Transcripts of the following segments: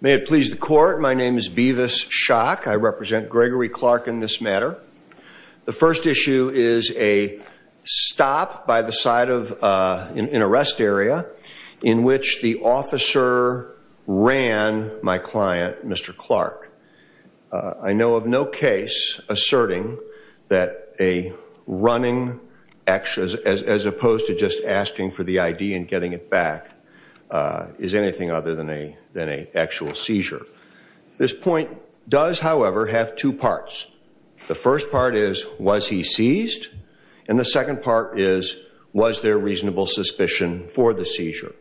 May it please the court, my name is Beavis Schock. I represent Gregory Clark in this matter. The first issue is a stop by the side of an arrest area in which the officer ran my client Mr. Clark. I know of no case asserting that a running action as opposed to just asking for the ID and getting it back is anything other than a than a actual seizure. This point does however have two parts. The first part is was he seized and the second part is was there reasonable suspicion for the seizure.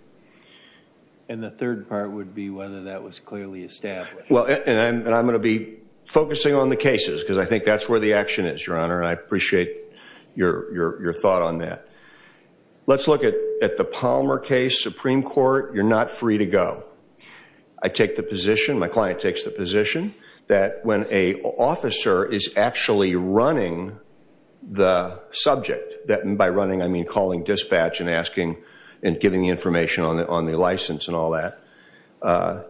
And the third part would be whether that was clearly established. Well and I'm gonna be focusing on the cases because I think that's where the action is your honor and I appreciate your your thought on that. Let's look at at the Palmer case Supreme Court you're not free to go. I take the position my client takes the position that when a officer is actually running the subject that and by running I mean calling dispatch and asking and giving the information on it on the license and all that.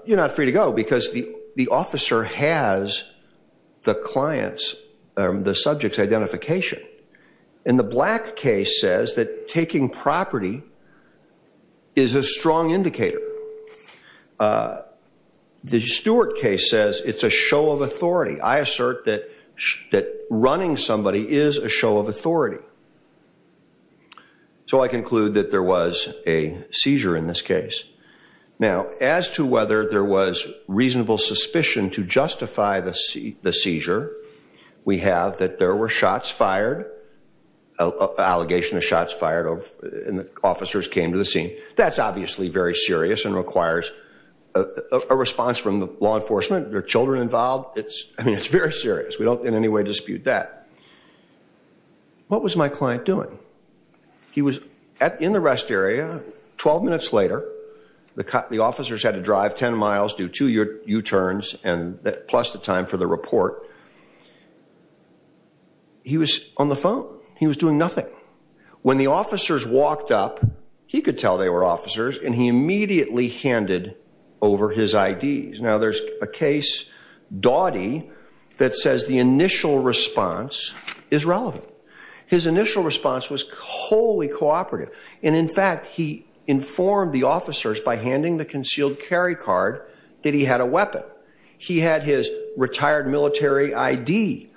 You're not free to go because the the officer has the clients or the subjects identification. In the Black case says that taking property is a that running somebody is a show of authority. So I conclude that there was a seizure in this case. Now as to whether there was reasonable suspicion to justify the seizure we have that there were shots fired. Allegation of shots fired of officers came to the scene. That's obviously very serious and requires a response from the law enforcement. There are children involved. It's I mean it's very serious. We don't in any way dispute that. What was my client doing? He was at in the rest area 12 minutes later. The cut the officers had to drive 10 miles due to your U-turns and that plus the time for the report. He was on the phone. He was doing nothing. When the officers walked up he could tell they were officers and he immediately handed over his IDs. Now there's a case Daughty that says the initial response is relevant. His initial response was wholly cooperative and in fact he informed the officers by handing the concealed carry card that he had a weapon. He had his retired military ID.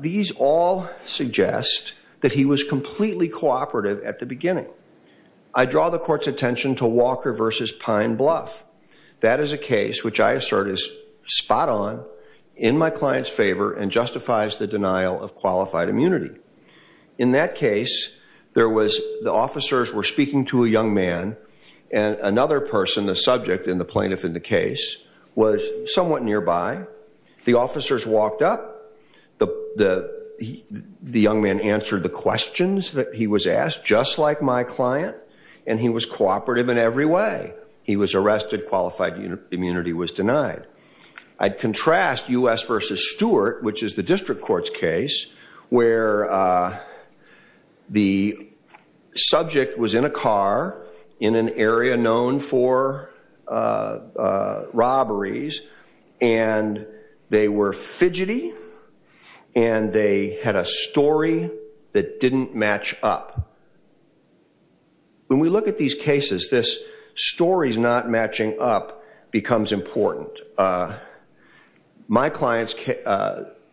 These all suggest that he was completely cooperative at the beginning. I draw in my client's favor and justifies the denial of qualified immunity. In that case there was the officers were speaking to a young man and another person the subject in the plaintiff in the case was somewhat nearby. The officers walked up. The young man answered the questions that he was asked just like my client and he was cooperative in every way. He was arrested. Qualified immunity was denied. I'd contrast U.S. versus Stewart which is the district court's case where the subject was in a car in an area known for robberies and they were fidgety and they had a story that didn't match up. When we look at these cases this story's not matching up becomes important. My client's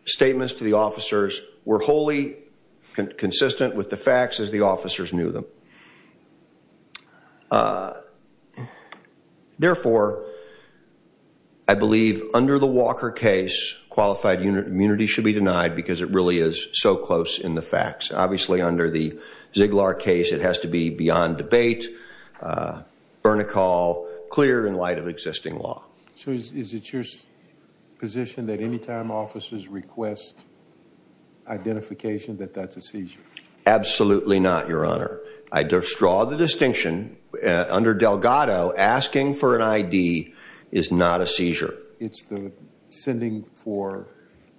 statements to the officers were wholly consistent with the facts as the officers knew them. Therefore I believe under the Walker case qualified immunity should be denied because it really is so close in the facts. Obviously under the Ziegler case it has to be beyond debate. Bernicall clear in light of existing law. So is it your position that anytime officers request identification that that's a seizure? Absolutely not your honor. I just draw the distinction under Delgado asking for an ID is not a seizure. It's the sending for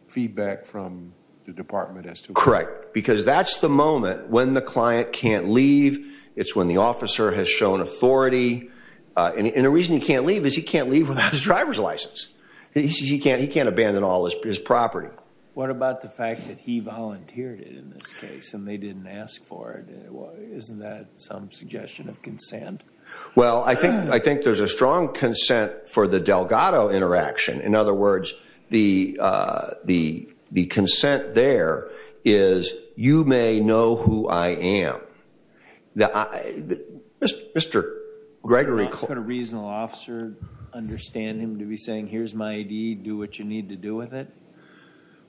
feedback from the department. Correct because that's the moment when the client can't leave. It's when the officer has shown authority and the reason he can't leave is he can't leave without his driver's license. He says he can't abandon all his property. What about the fact that he volunteered it in this case and they didn't ask for it? Isn't that some suggestion of consent? Well I think there's a strong consent for the Delgado interaction. In other words the the the consent there is you may know who I am. Mr. Gregory could a reasonable officer understand him to be saying here's my ID do what you need to do with it?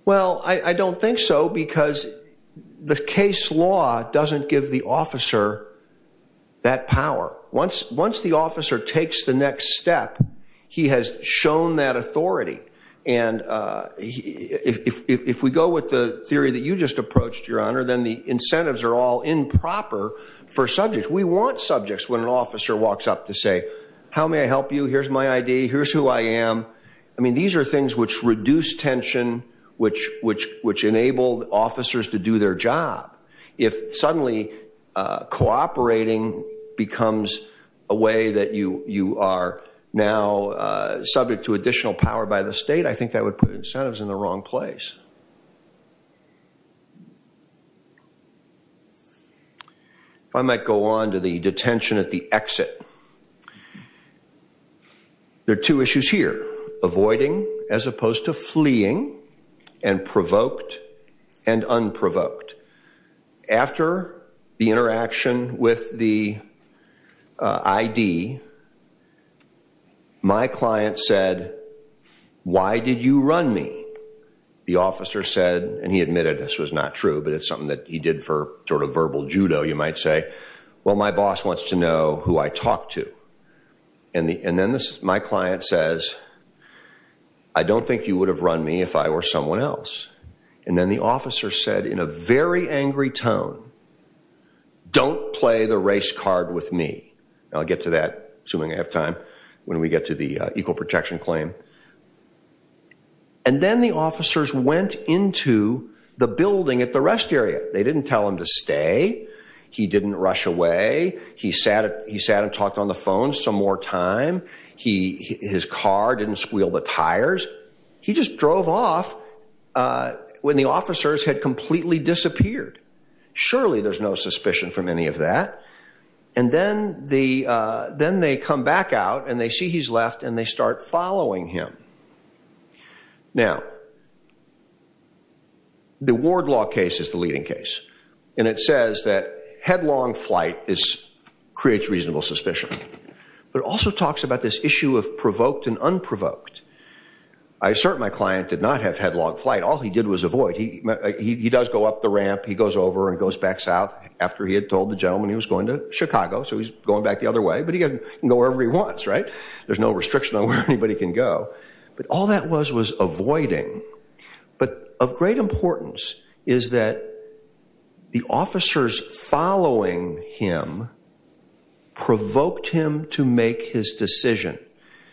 Well I don't think so because the case law doesn't give the officer that power. Once the officer takes the next step he has shown that authority and if we go with the theory that you just approached your honor then the incentives are all improper for subjects. We want subjects when an officer walks up to say how may I help you here's my ID here's who I am. I mean these are things which reduce tension which enable officers to do their job. If suddenly cooperating becomes a way that you you are now subject to additional power by the state I think that would put incentives in the wrong place. I might go on to the detention at the exit. There are two issues here avoiding as opposed to fleeing and provoked and unprovoked. After the interaction with the ID my client said why did you run me? The officer said and he admitted this was not true but it's something that he did for sort of verbal judo you might say well my boss wants to know who I talked to and the and then this my client says I don't think you would have run me if I were someone else and then the officer said in a very angry tone don't play the race card with me I'll get to that assuming I have time when we get to the equal protection claim and then the officers went into the building at the rest area they didn't tell him to stay he didn't rush away he sat he sat and talked on the phone some more time he his car didn't squeal the tires he just drove off when the officers had completely disappeared surely there's no suspicion from any of that and then the then they come back out and they see he's left and they start following him now the ward law case is the leading case and it says that headlong flight is creates reasonable suspicion but also talks about this issue of provoked and unprovoked I assert my client did not have headlong flight all he did was avoid he he does go up the ramp he goes over and goes back south after he had told the gentleman he was going to Chicago so he's going back the other way but he doesn't go wherever he wants right there's no restriction on where anybody can go but all that was was avoiding but of great importance is that the officers following him provoked him to make his decision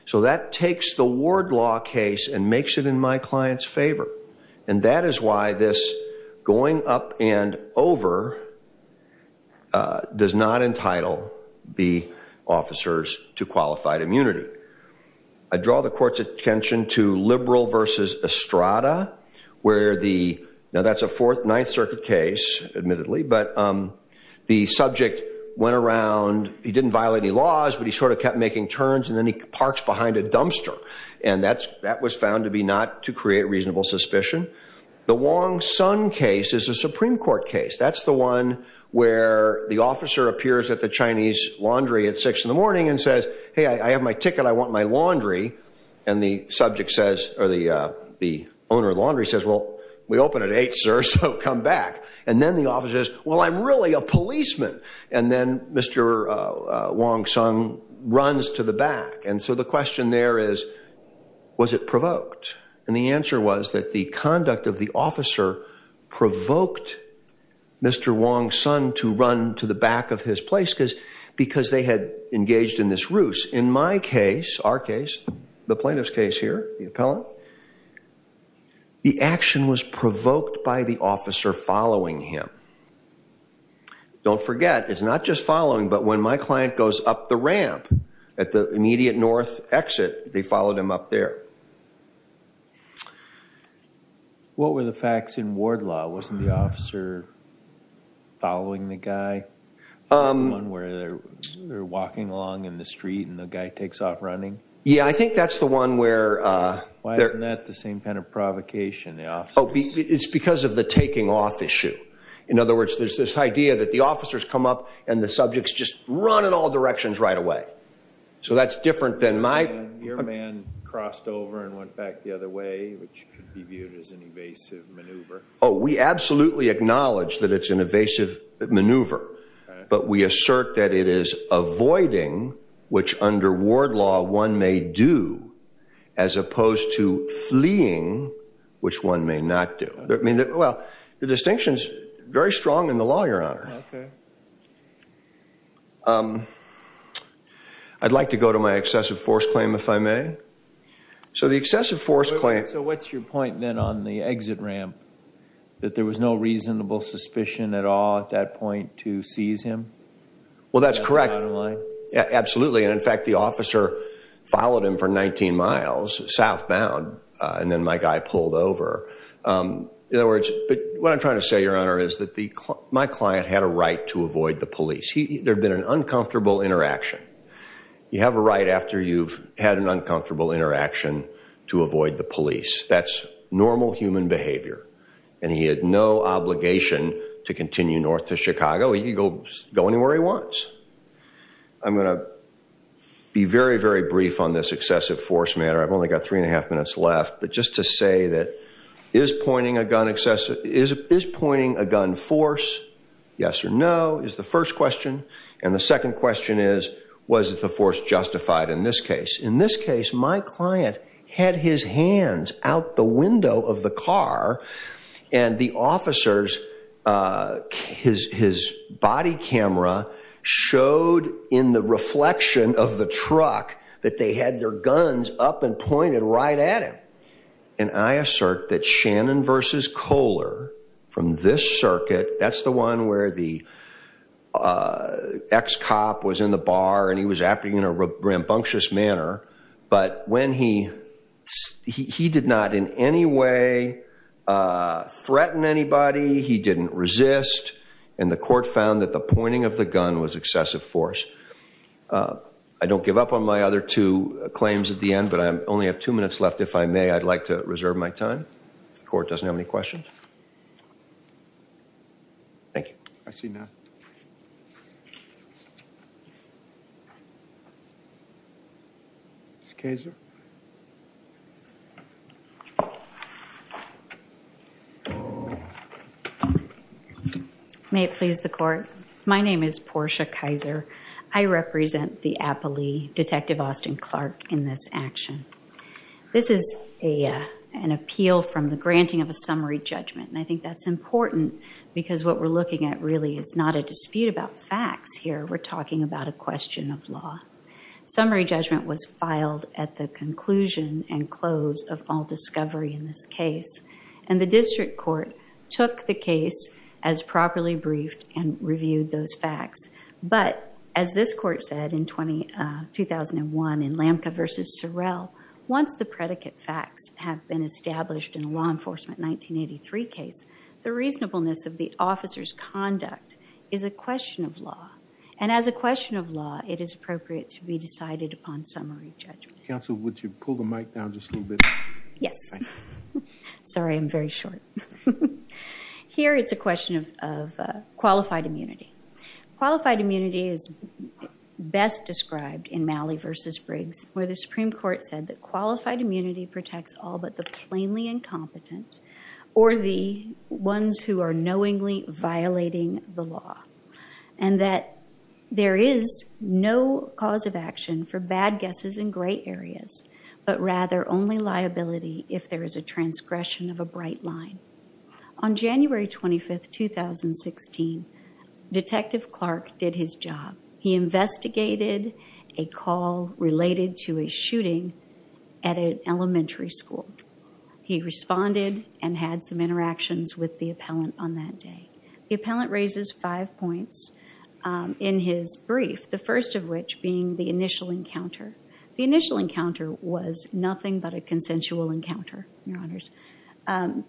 so that takes the ward law case and makes it in my client's favor and that is why this going up and over does not entitle the officers to qualified immunity I draw the court's attention to that's a fourth ninth circuit case admittedly but the subject went around he didn't violate any laws but he sort of kept making turns and then he parks behind a dumpster and that's that was found to be not to create reasonable suspicion the Wong Sun case is a supreme court case that's the one where the officer appears at the Chinese laundry at six in the morning and says hey I have my ticket I want my laundry and the subject says or the the owner of laundry says well we open at eight sir so come back and then the officer says well I'm really a policeman and then Mr. Wong Sun runs to the back and so the question there is was it provoked and the answer was that the conduct of the officer provoked Mr. Wong Sun to run to the back of his place because because they had engaged in this ruse in my case our case the plaintiff's case here the appellant the action was provoked by the officer following him don't forget it's not just following but when my client goes up the ramp at the immediate north exit they followed him up there what were the facts in ward law wasn't the officer following the guy um where they're walking along in the street and the guy takes off running yeah I think that's the one where uh isn't that the same kind of provocation the officer it's because of the taking off issue in other words there's this idea that the officers come up and the subjects just run in all directions right away so that's different than my your man crossed over and went back the other way which could be viewed as an evasive maneuver oh we absolutely acknowledge that it's an evasive maneuver but we assert that it is avoiding which under ward law one may do as opposed to fleeing which one may not do I mean that well the distinction is very strong in the law your honor okay um I'd like to go to my excessive force claim if I may so the excessive force claim so what's your point then on the exit ramp that there was no reasonable suspicion at all at that point to seize him well that's correct out of line absolutely and in fact the officer followed him for 19 miles southbound and then my guy pulled over um in other words but what I'm trying to say your honor is that the my client had a right to avoid the police he there'd been an uncomfortable interaction you have a right after you've had an uncomfortable interaction to avoid the police that's normal human behavior and he had no obligation to continue north to Chicago he could go anywhere he wants I'm gonna be very very brief on this excessive force matter I've only got three and a half minutes left but just to say that is pointing a gun excessive is is pointing a gun force yes or no is the first question and the second question is was it the force justified in this case in this case my client had his hands out the window of the car and the officers uh his his body camera showed in the reflection of the truck that they had their guns up and pointed right at him and I assert that Shannon versus Kohler from this circuit that's the one where the uh ex-cop was in the bar and he was acting in a rambunctious manner but when he he did not in any way uh threaten anybody he didn't resist and the court found that the pointing of the gun was excessive force I don't give up on my other two claims at the end but I only have two minutes left if I may I'd like to reserve my time the court doesn't have any questions thank you I see now miss Kaiser may it please the court my name is Portia Kaiser I represent the Appley detective Austin Clark in action this is a an appeal from the granting of a summary judgment and I think that's important because what we're looking at really is not a dispute about facts here we're talking about a question of law summary judgment was filed at the conclusion and close of all discovery in this case and the district court took the case as properly briefed and reviewed those facts but as this court said in 20 uh 2001 in Lamka versus Sorrell once the predicate facts have been established in law enforcement 1983 case the reasonableness of the officer's conduct is a question of law and as a question of law it is appropriate to be decided upon summary judgment council would you pull the mic down just a little bit yes sorry I'm very short here it's a question of of qualified immunity qualified immunity is best described in Malley versus Briggs where the supreme court said that qualified immunity protects all but the plainly incompetent or the ones who are knowingly violating the law and that there is no cause of action for bad guesses in gray areas but rather only liability if there is a transgression of a bright line on January 25th 2016 detective Clark did his job he investigated a call related to a shooting at an elementary school he responded and had some interactions with the appellant on that day the appellant raises five points in his brief the first of which being the initial encounter the initial encounter was nothing but a consensual encounter your honors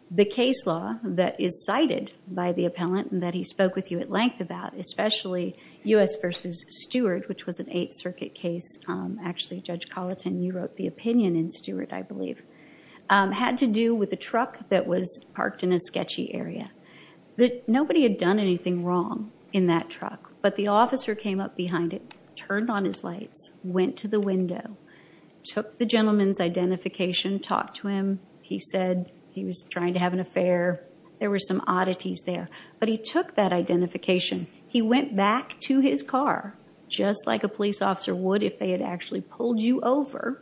the case law that is cited by the appellant and that he spoke with you at length about especially us versus steward which was an eighth circuit case actually judge Colleton you wrote the opinion in steward I believe had to do with the truck that was parked in a sketchy area that nobody had done anything wrong in that truck but the officer came up behind it turned on his lights went to the window took the gentleman's identification talked to him he said he was trying to have an affair there were some oddities there but he took that identification he went back to his car just like a police officer would if they had actually pulled you over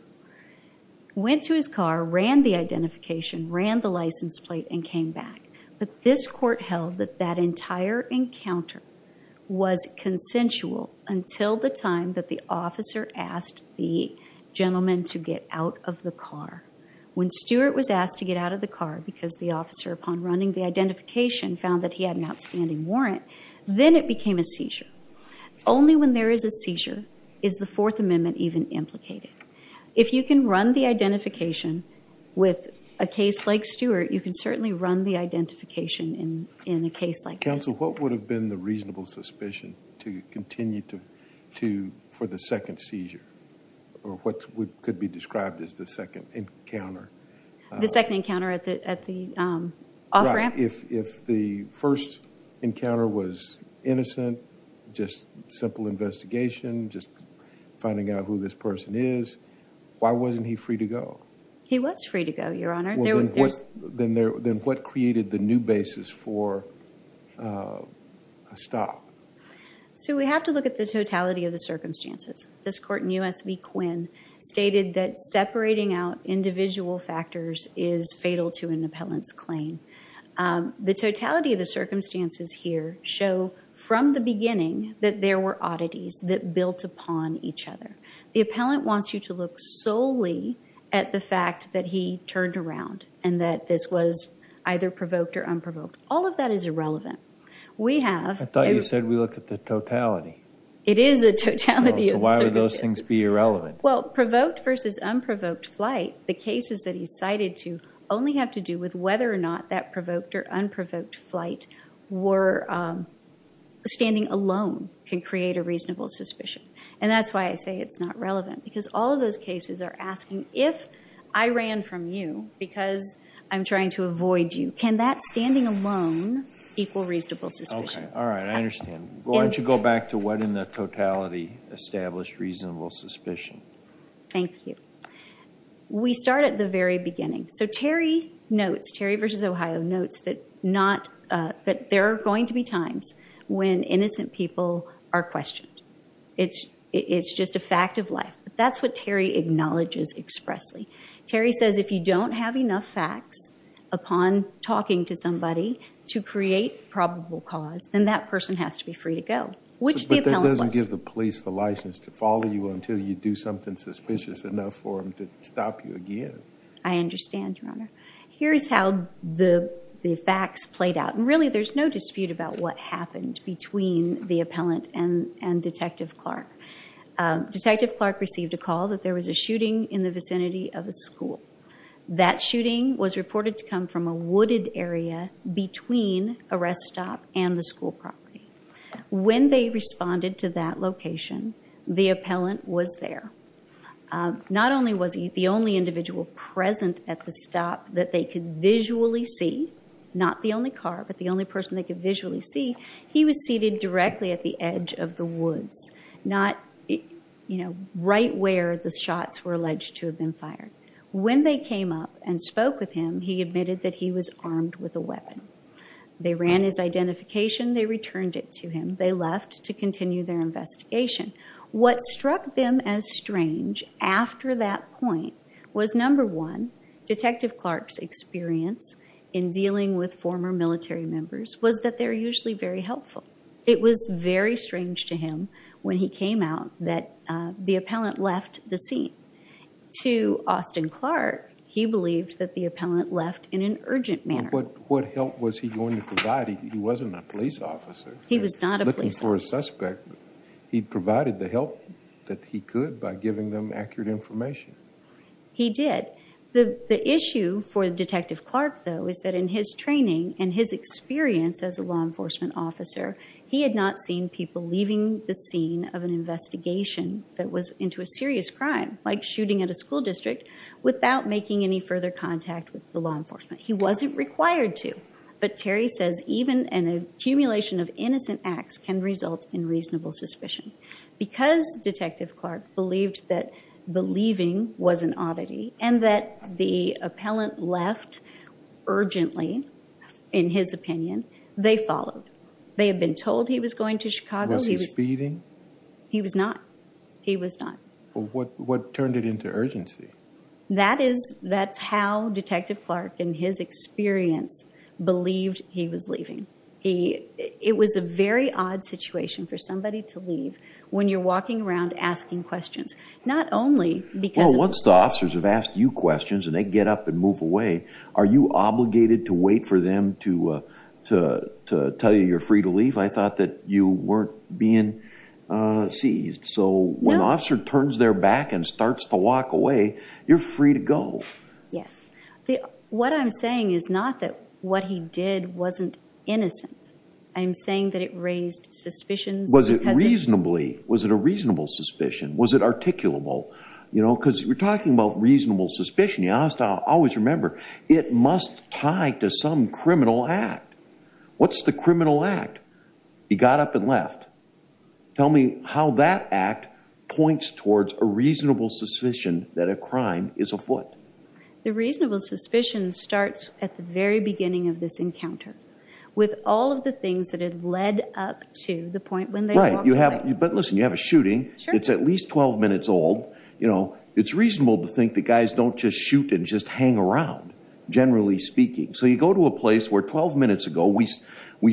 went to his car ran the identification ran the license plate and came back but this court held that that entire encounter was consensual until the time that the officer asked the gentleman to get out of the car when stewart was asked to get out of the car because the officer upon running the identification found that he had an outstanding warrant then it became a seizure only when there is a seizure is the fourth amendment even implicated if you can run the in a case like council what would have been the reasonable suspicion to continue to to for the second seizure or what could be described as the second encounter the second encounter at the at the um off ramp if if the first encounter was innocent just simple investigation just finding out who this person is why wasn't he free to go he was free to go your honor there was then there then what created the new basis for a stop so we have to look at the totality of the circumstances this court in usb quinn stated that separating out individual factors is fatal to an appellant's claim the totality of the circumstances here show from the beginning that there were oddities that built upon each other the appellant wants you to look solely at the fact that he turned around and that this was either provoked or unprovoked all of that is irrelevant we have i thought you said we look at the totality it is a totality of those things be irrelevant well provoked versus unprovoked flight the cases that he cited to only have to do with whether or not that provoked or unprovoked flight were standing alone can create a reasonable suspicion and that's why i say it's relevant because all of those cases are asking if i ran from you because i'm trying to avoid you can that standing alone equal reasonable suspicion all right i understand why don't you go back to what in the totality established reasonable suspicion thank you we start at the very beginning so terry notes terry versus ohio notes that not uh that there are going to be times when innocent people are questioned it's it's just a fact of life but that's what terry acknowledges expressly terry says if you don't have enough facts upon talking to somebody to create probable cause then that person has to be free to go which doesn't give the police the license to follow you until you do something suspicious enough for them to stop you again i understand your honor here's how the the facts played out and really there's no dispute about what happened between the appellant and and detective clark detective clark received a call that there was a shooting in the vicinity of a school that shooting was reported to come from a wooded area between arrest stop and the school property when they responded to that location the appellant was there not only was he the only individual present at the stop that they could visually see not the only car but the only person they could visually see he was seated directly at the edge of the woods not you know right where the shots were alleged to have been fired when they came up and spoke with him he admitted that he was armed with a weapon they ran his identification they returned it to him they left to continue their investigation what struck them as strange after that point was number one detective clark's experience in dealing with former military members was that they're usually very helpful it was very strange to him when he came out that the appellant left the scene to austin clark he believed that the appellant left in an urgent manner but what help was he going to provide he wasn't a police officer he was not looking for a suspect he provided the help that he could by giving them accurate information he did the the issue for detective clark though is that in his training and his experience as a law enforcement officer he had not seen people leaving the scene of an investigation that was into a serious crime like shooting at a school district without making any further contact with the law enforcement he wasn't required to but terry says even an accumulation of innocent acts can result in reasonable suspicion because detective clark believed that believing was an oddity and that the appellant left urgently in his opinion they followed they had been told he was going to chicago he was speeding he was not he was not but what what turned it into urgency that is that's how detective clark in his experience believed he was leaving he it was a very odd situation for somebody to leave when you're walking around asking questions not only because once the officers have asked you questions and they get up and move away are you obligated to wait for them to uh to to tell you you're free to leave i thought that you weren't being uh seized so when officer turns their back and starts to walk away you're free to go yes the what i'm saying is not that what he did wasn't innocent i'm saying that it raised suspicions was it reasonably was it a reasonable suspicion was it articulable you know because you're talking about reasonable suspicion you have to always remember it must tie to some criminal act what's the criminal act he got up and left tell me how that act points towards a reasonable suspicion that a crime is afoot the reasonable suspicion starts at the very beginning of this encounter with all of the things that had led up to the point when they right you have but listen you have a shooting it's at least 12 minutes old you know it's reasonable to think that guys don't just shoot and just hang around generally speaking so you go to a place where 12 minutes ago we we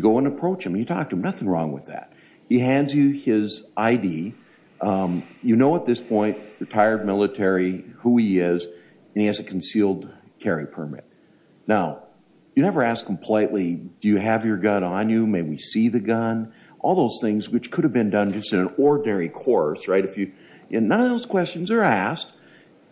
go and approach him you talk to him nothing wrong with that he hands you his id um you know at this point retired military who he is and he has a concealed carry permit now you never ask him politely do you have your gun on you may we see the gun all those things which could have been done just in an ordinary course right if you and none of those questions are asked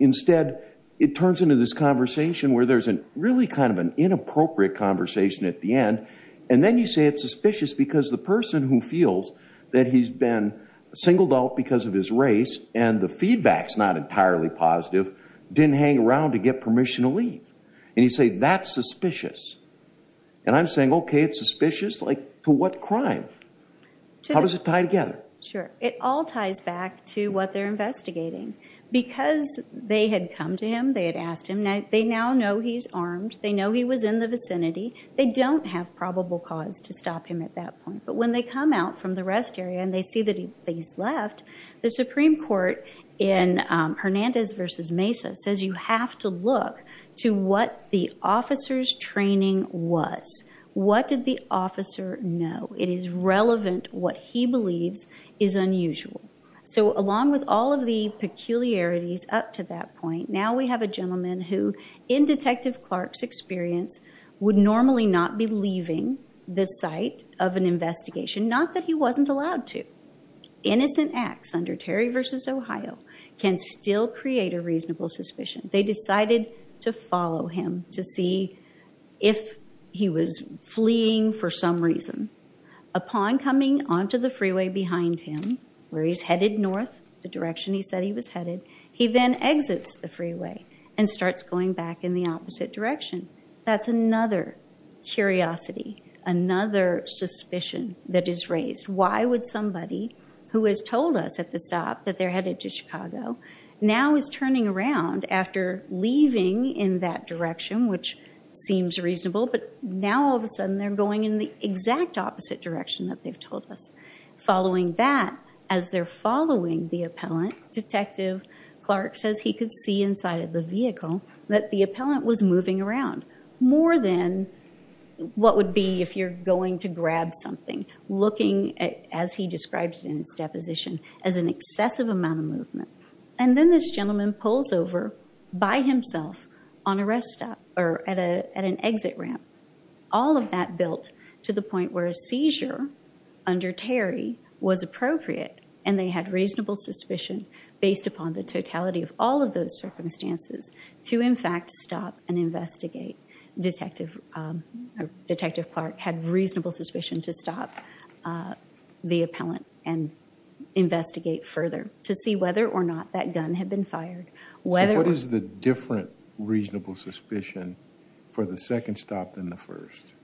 instead it turns into this conversation where there's a really kind of an inappropriate conversation at the end and then you say it's suspicious because the person who feels that he's been singled out because of his race and the feedback's not entirely positive didn't hang around to get permission to leave and you say that's suspicious and i'm saying okay it's suspicious like to what crime how does it tie together sure it all ties back to what they're investigating because they had come to him they had asked him now they now know he's armed they know he was in the vicinity they don't have probable cause to stop him at that point but when they come out from the rest area and they see that he's left the supreme court in hernandez versus mesa says you have to look to what the officer's training was what did the officer know it is relevant what he believes is unusual so along with all of the peculiarities up to that point now we have a gentleman who in detective clark's experience would normally not be leaving the site of an investigation not that he wasn't allowed to innocent acts under terry versus ohio can still create a reasonable suspicion they decided to follow him to see if he was fleeing for some reason upon coming onto the freeway behind him where he's headed north the direction he said he was headed he then exits the freeway and starts going back in the opposite direction that's another curiosity another suspicion that is raised why would somebody who has told us at the stop that they're headed to chicago now is turning around after leaving in that direction which seems reasonable but now all of a sudden they're going in the exact opposite direction that they've told us following that as they're following the appellant detective clark says he could see inside of the vehicle that the appellant was moving around more than what would be if you're going to grab something looking at as he described in his deposition as an excessive amount of movement and then this gentleman pulls over by himself on a rest stop or at a at an exit ramp all of that built to the point where a seizure under terry was appropriate and they had reasonable suspicion based upon the totality of all of those circumstances to in fact stop and investigate detective um detective clark had reasonable suspicion to stop uh the appellant and investigate further to see whether or not that gun had been fired whether what is the different reasonable suspicion for the second stop than the first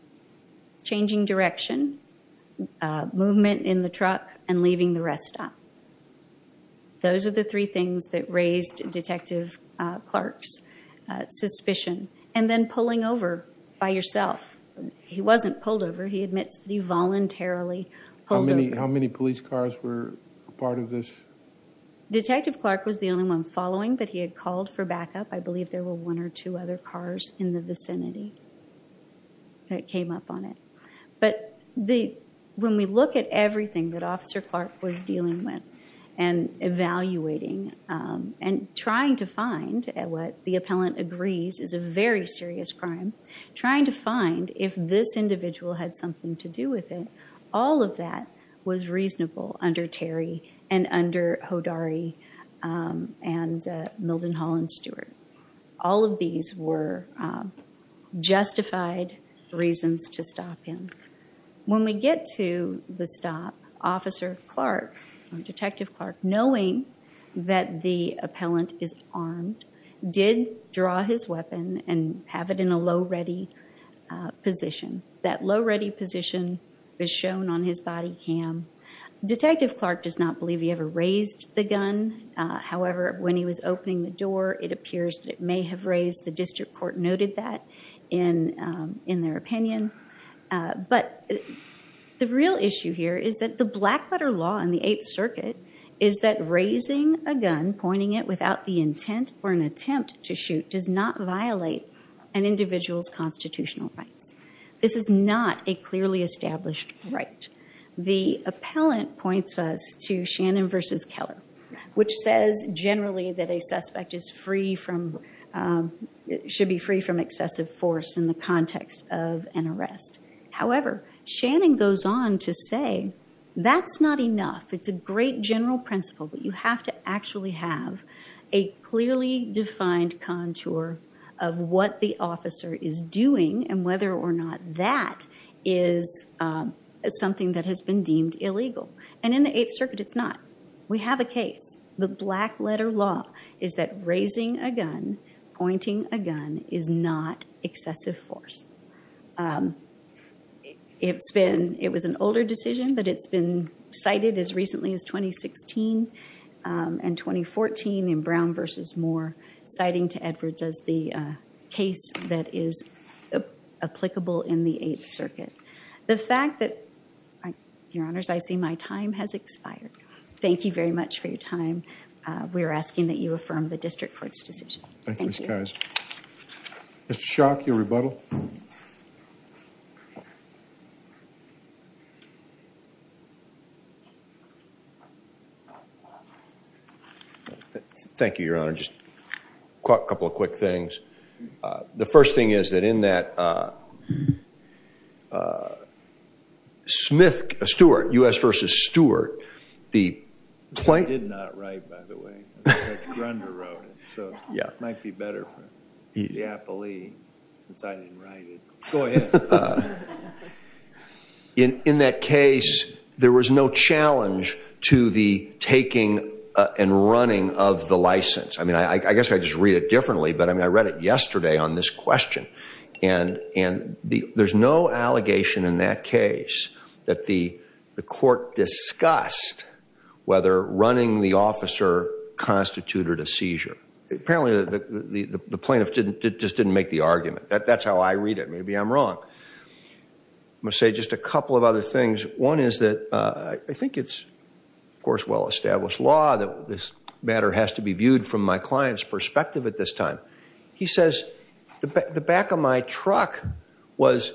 changing direction movement in the truck and leaving the rest stop those are the three things that raised detective clark's suspicion and then pulling over by yourself he wasn't pulled over he admits that he voluntarily how many how many police cars were part of this detective clark was the only one following but he had called for backup i believe there were one or two other cars in the vicinity that came up on it but the when we look at everything that officer clark was dealing with and evaluating um and trying to find what the appellant agrees is a very serious crime trying to find if this individual had something to do with it all of that was reasonable under under hodari um and mildenhall and stewart all of these were justified reasons to stop him when we get to the stop officer clark detective clark knowing that the appellant is armed did draw his weapon and have it in a low ready uh position that low ready position was shown on this is not a clearly established right the appellant points us to the fact that the district court noted that in um in their opinion uh but the real issue here is that the black butter law in the eighth circuit is that raising a gun pointing it without the intent or an attempt to shoot does not violate an individual's constitutional rights this is not a clearly established right the appellant points us to shannon versus keller which says generally that a suspect is free from um should be free from excessive force in the context of an arrest however shannon goes on to say that's not enough it's a great general principle but you have to is something that has been deemed illegal and in the eighth circuit it's not we have a case the black letter law is that raising a gun pointing a gun is not excessive force it's been it was an older decision but it's been cited as recently as 2016 and 2014 in brown versus moore citing to edwards as the case that is applicable in the eighth circuit the fact that your honors i see my time has expired thank you very much for your time we are asking that you affirm the district court's decision thank you guys it's a shock your rebuttal uh thank you your honor just a couple of quick things uh the first thing is that in that uh uh smith stewart u.s versus stewart the point did not write by the way grunder wrote it so yeah it might be better for the appellee since i didn't write it go ahead uh in in that case there was no challenge to the taking and running of the license i mean i i guess i just read it differently but i mean i read it yesterday on this question and and the there's no allegation in that case that the the court discussed whether running the officer constituted a seizure apparently the the plaintiff didn't just didn't make the argument that that's i read it maybe i'm wrong i'm going to say just a couple of other things one is that uh i think it's of course well established law that this matter has to be viewed from my client's perspective at this time he says the back of my truck was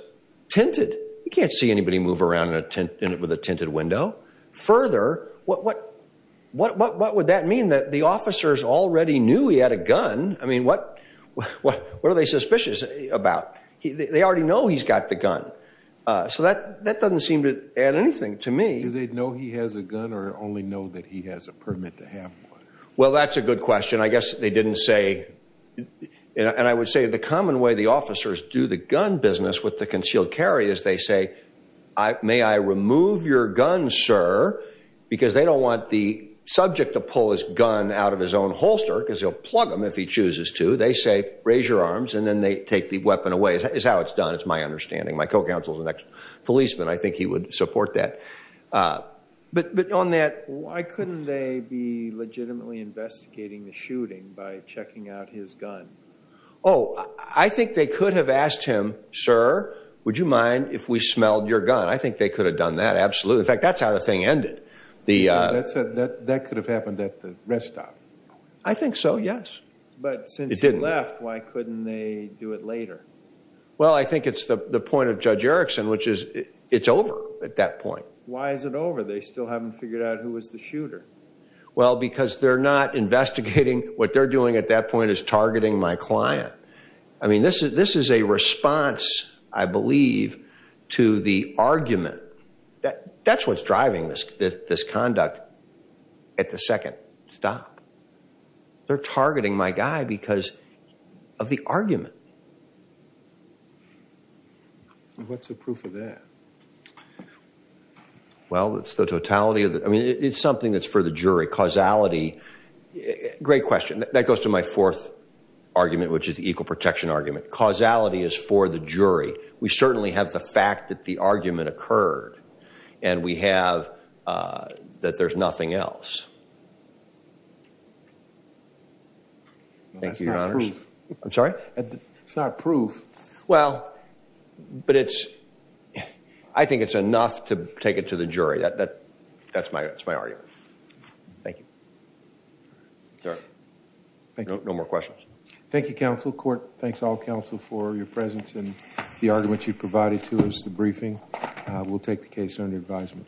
tinted you can't see anybody move around in a tent in it with a tinted window further what what what what would that mean that the officers already knew he had a gun i mean what what what are they suspicious about he they already know he's got the gun uh so that that doesn't seem to add anything to me do they know he has a gun or only know that he has a permit to have one well that's a good question i guess they didn't say and i would say the common way the officers do the gun business with the concealed carry is they say i may i remove your gun sir because they don't want the subject to pull his gun out of his holster because he'll plug him if he chooses to they say raise your arms and then they take the weapon away is how it's done it's my understanding my co-counsel is the next policeman i think he would support that uh but but on that why couldn't they be legitimately investigating the shooting by checking out his gun oh i think they could have asked him sir would you mind if we smelled your gun i think they could have done that absolutely in fact that's how the thing ended the uh that's the risk stuff i think so yes but since he left why couldn't they do it later well i think it's the the point of judge erickson which is it's over at that point why is it over they still haven't figured out who was the shooter well because they're not investigating what they're doing at that point is targeting my client i mean this is this is a response i believe to the argument that that's what's driving this this conduct at the second stop they're targeting my guy because of the argument what's the proof of that well it's the totality of the i mean it's something that's for the jury causality great question that goes to my fourth argument which is the equal protection argument causality is for the jury we certainly have the fact that the argument occurred and we have uh that there's nothing else thank you your honor i'm sorry it's not proof well but it's i think it's enough to take it to the jury that that that's my that's my argument thank you sir thank you no more questions thank you counsel court thanks all counsel for your presence and the argument you provided to us the briefing we'll take the case under advisement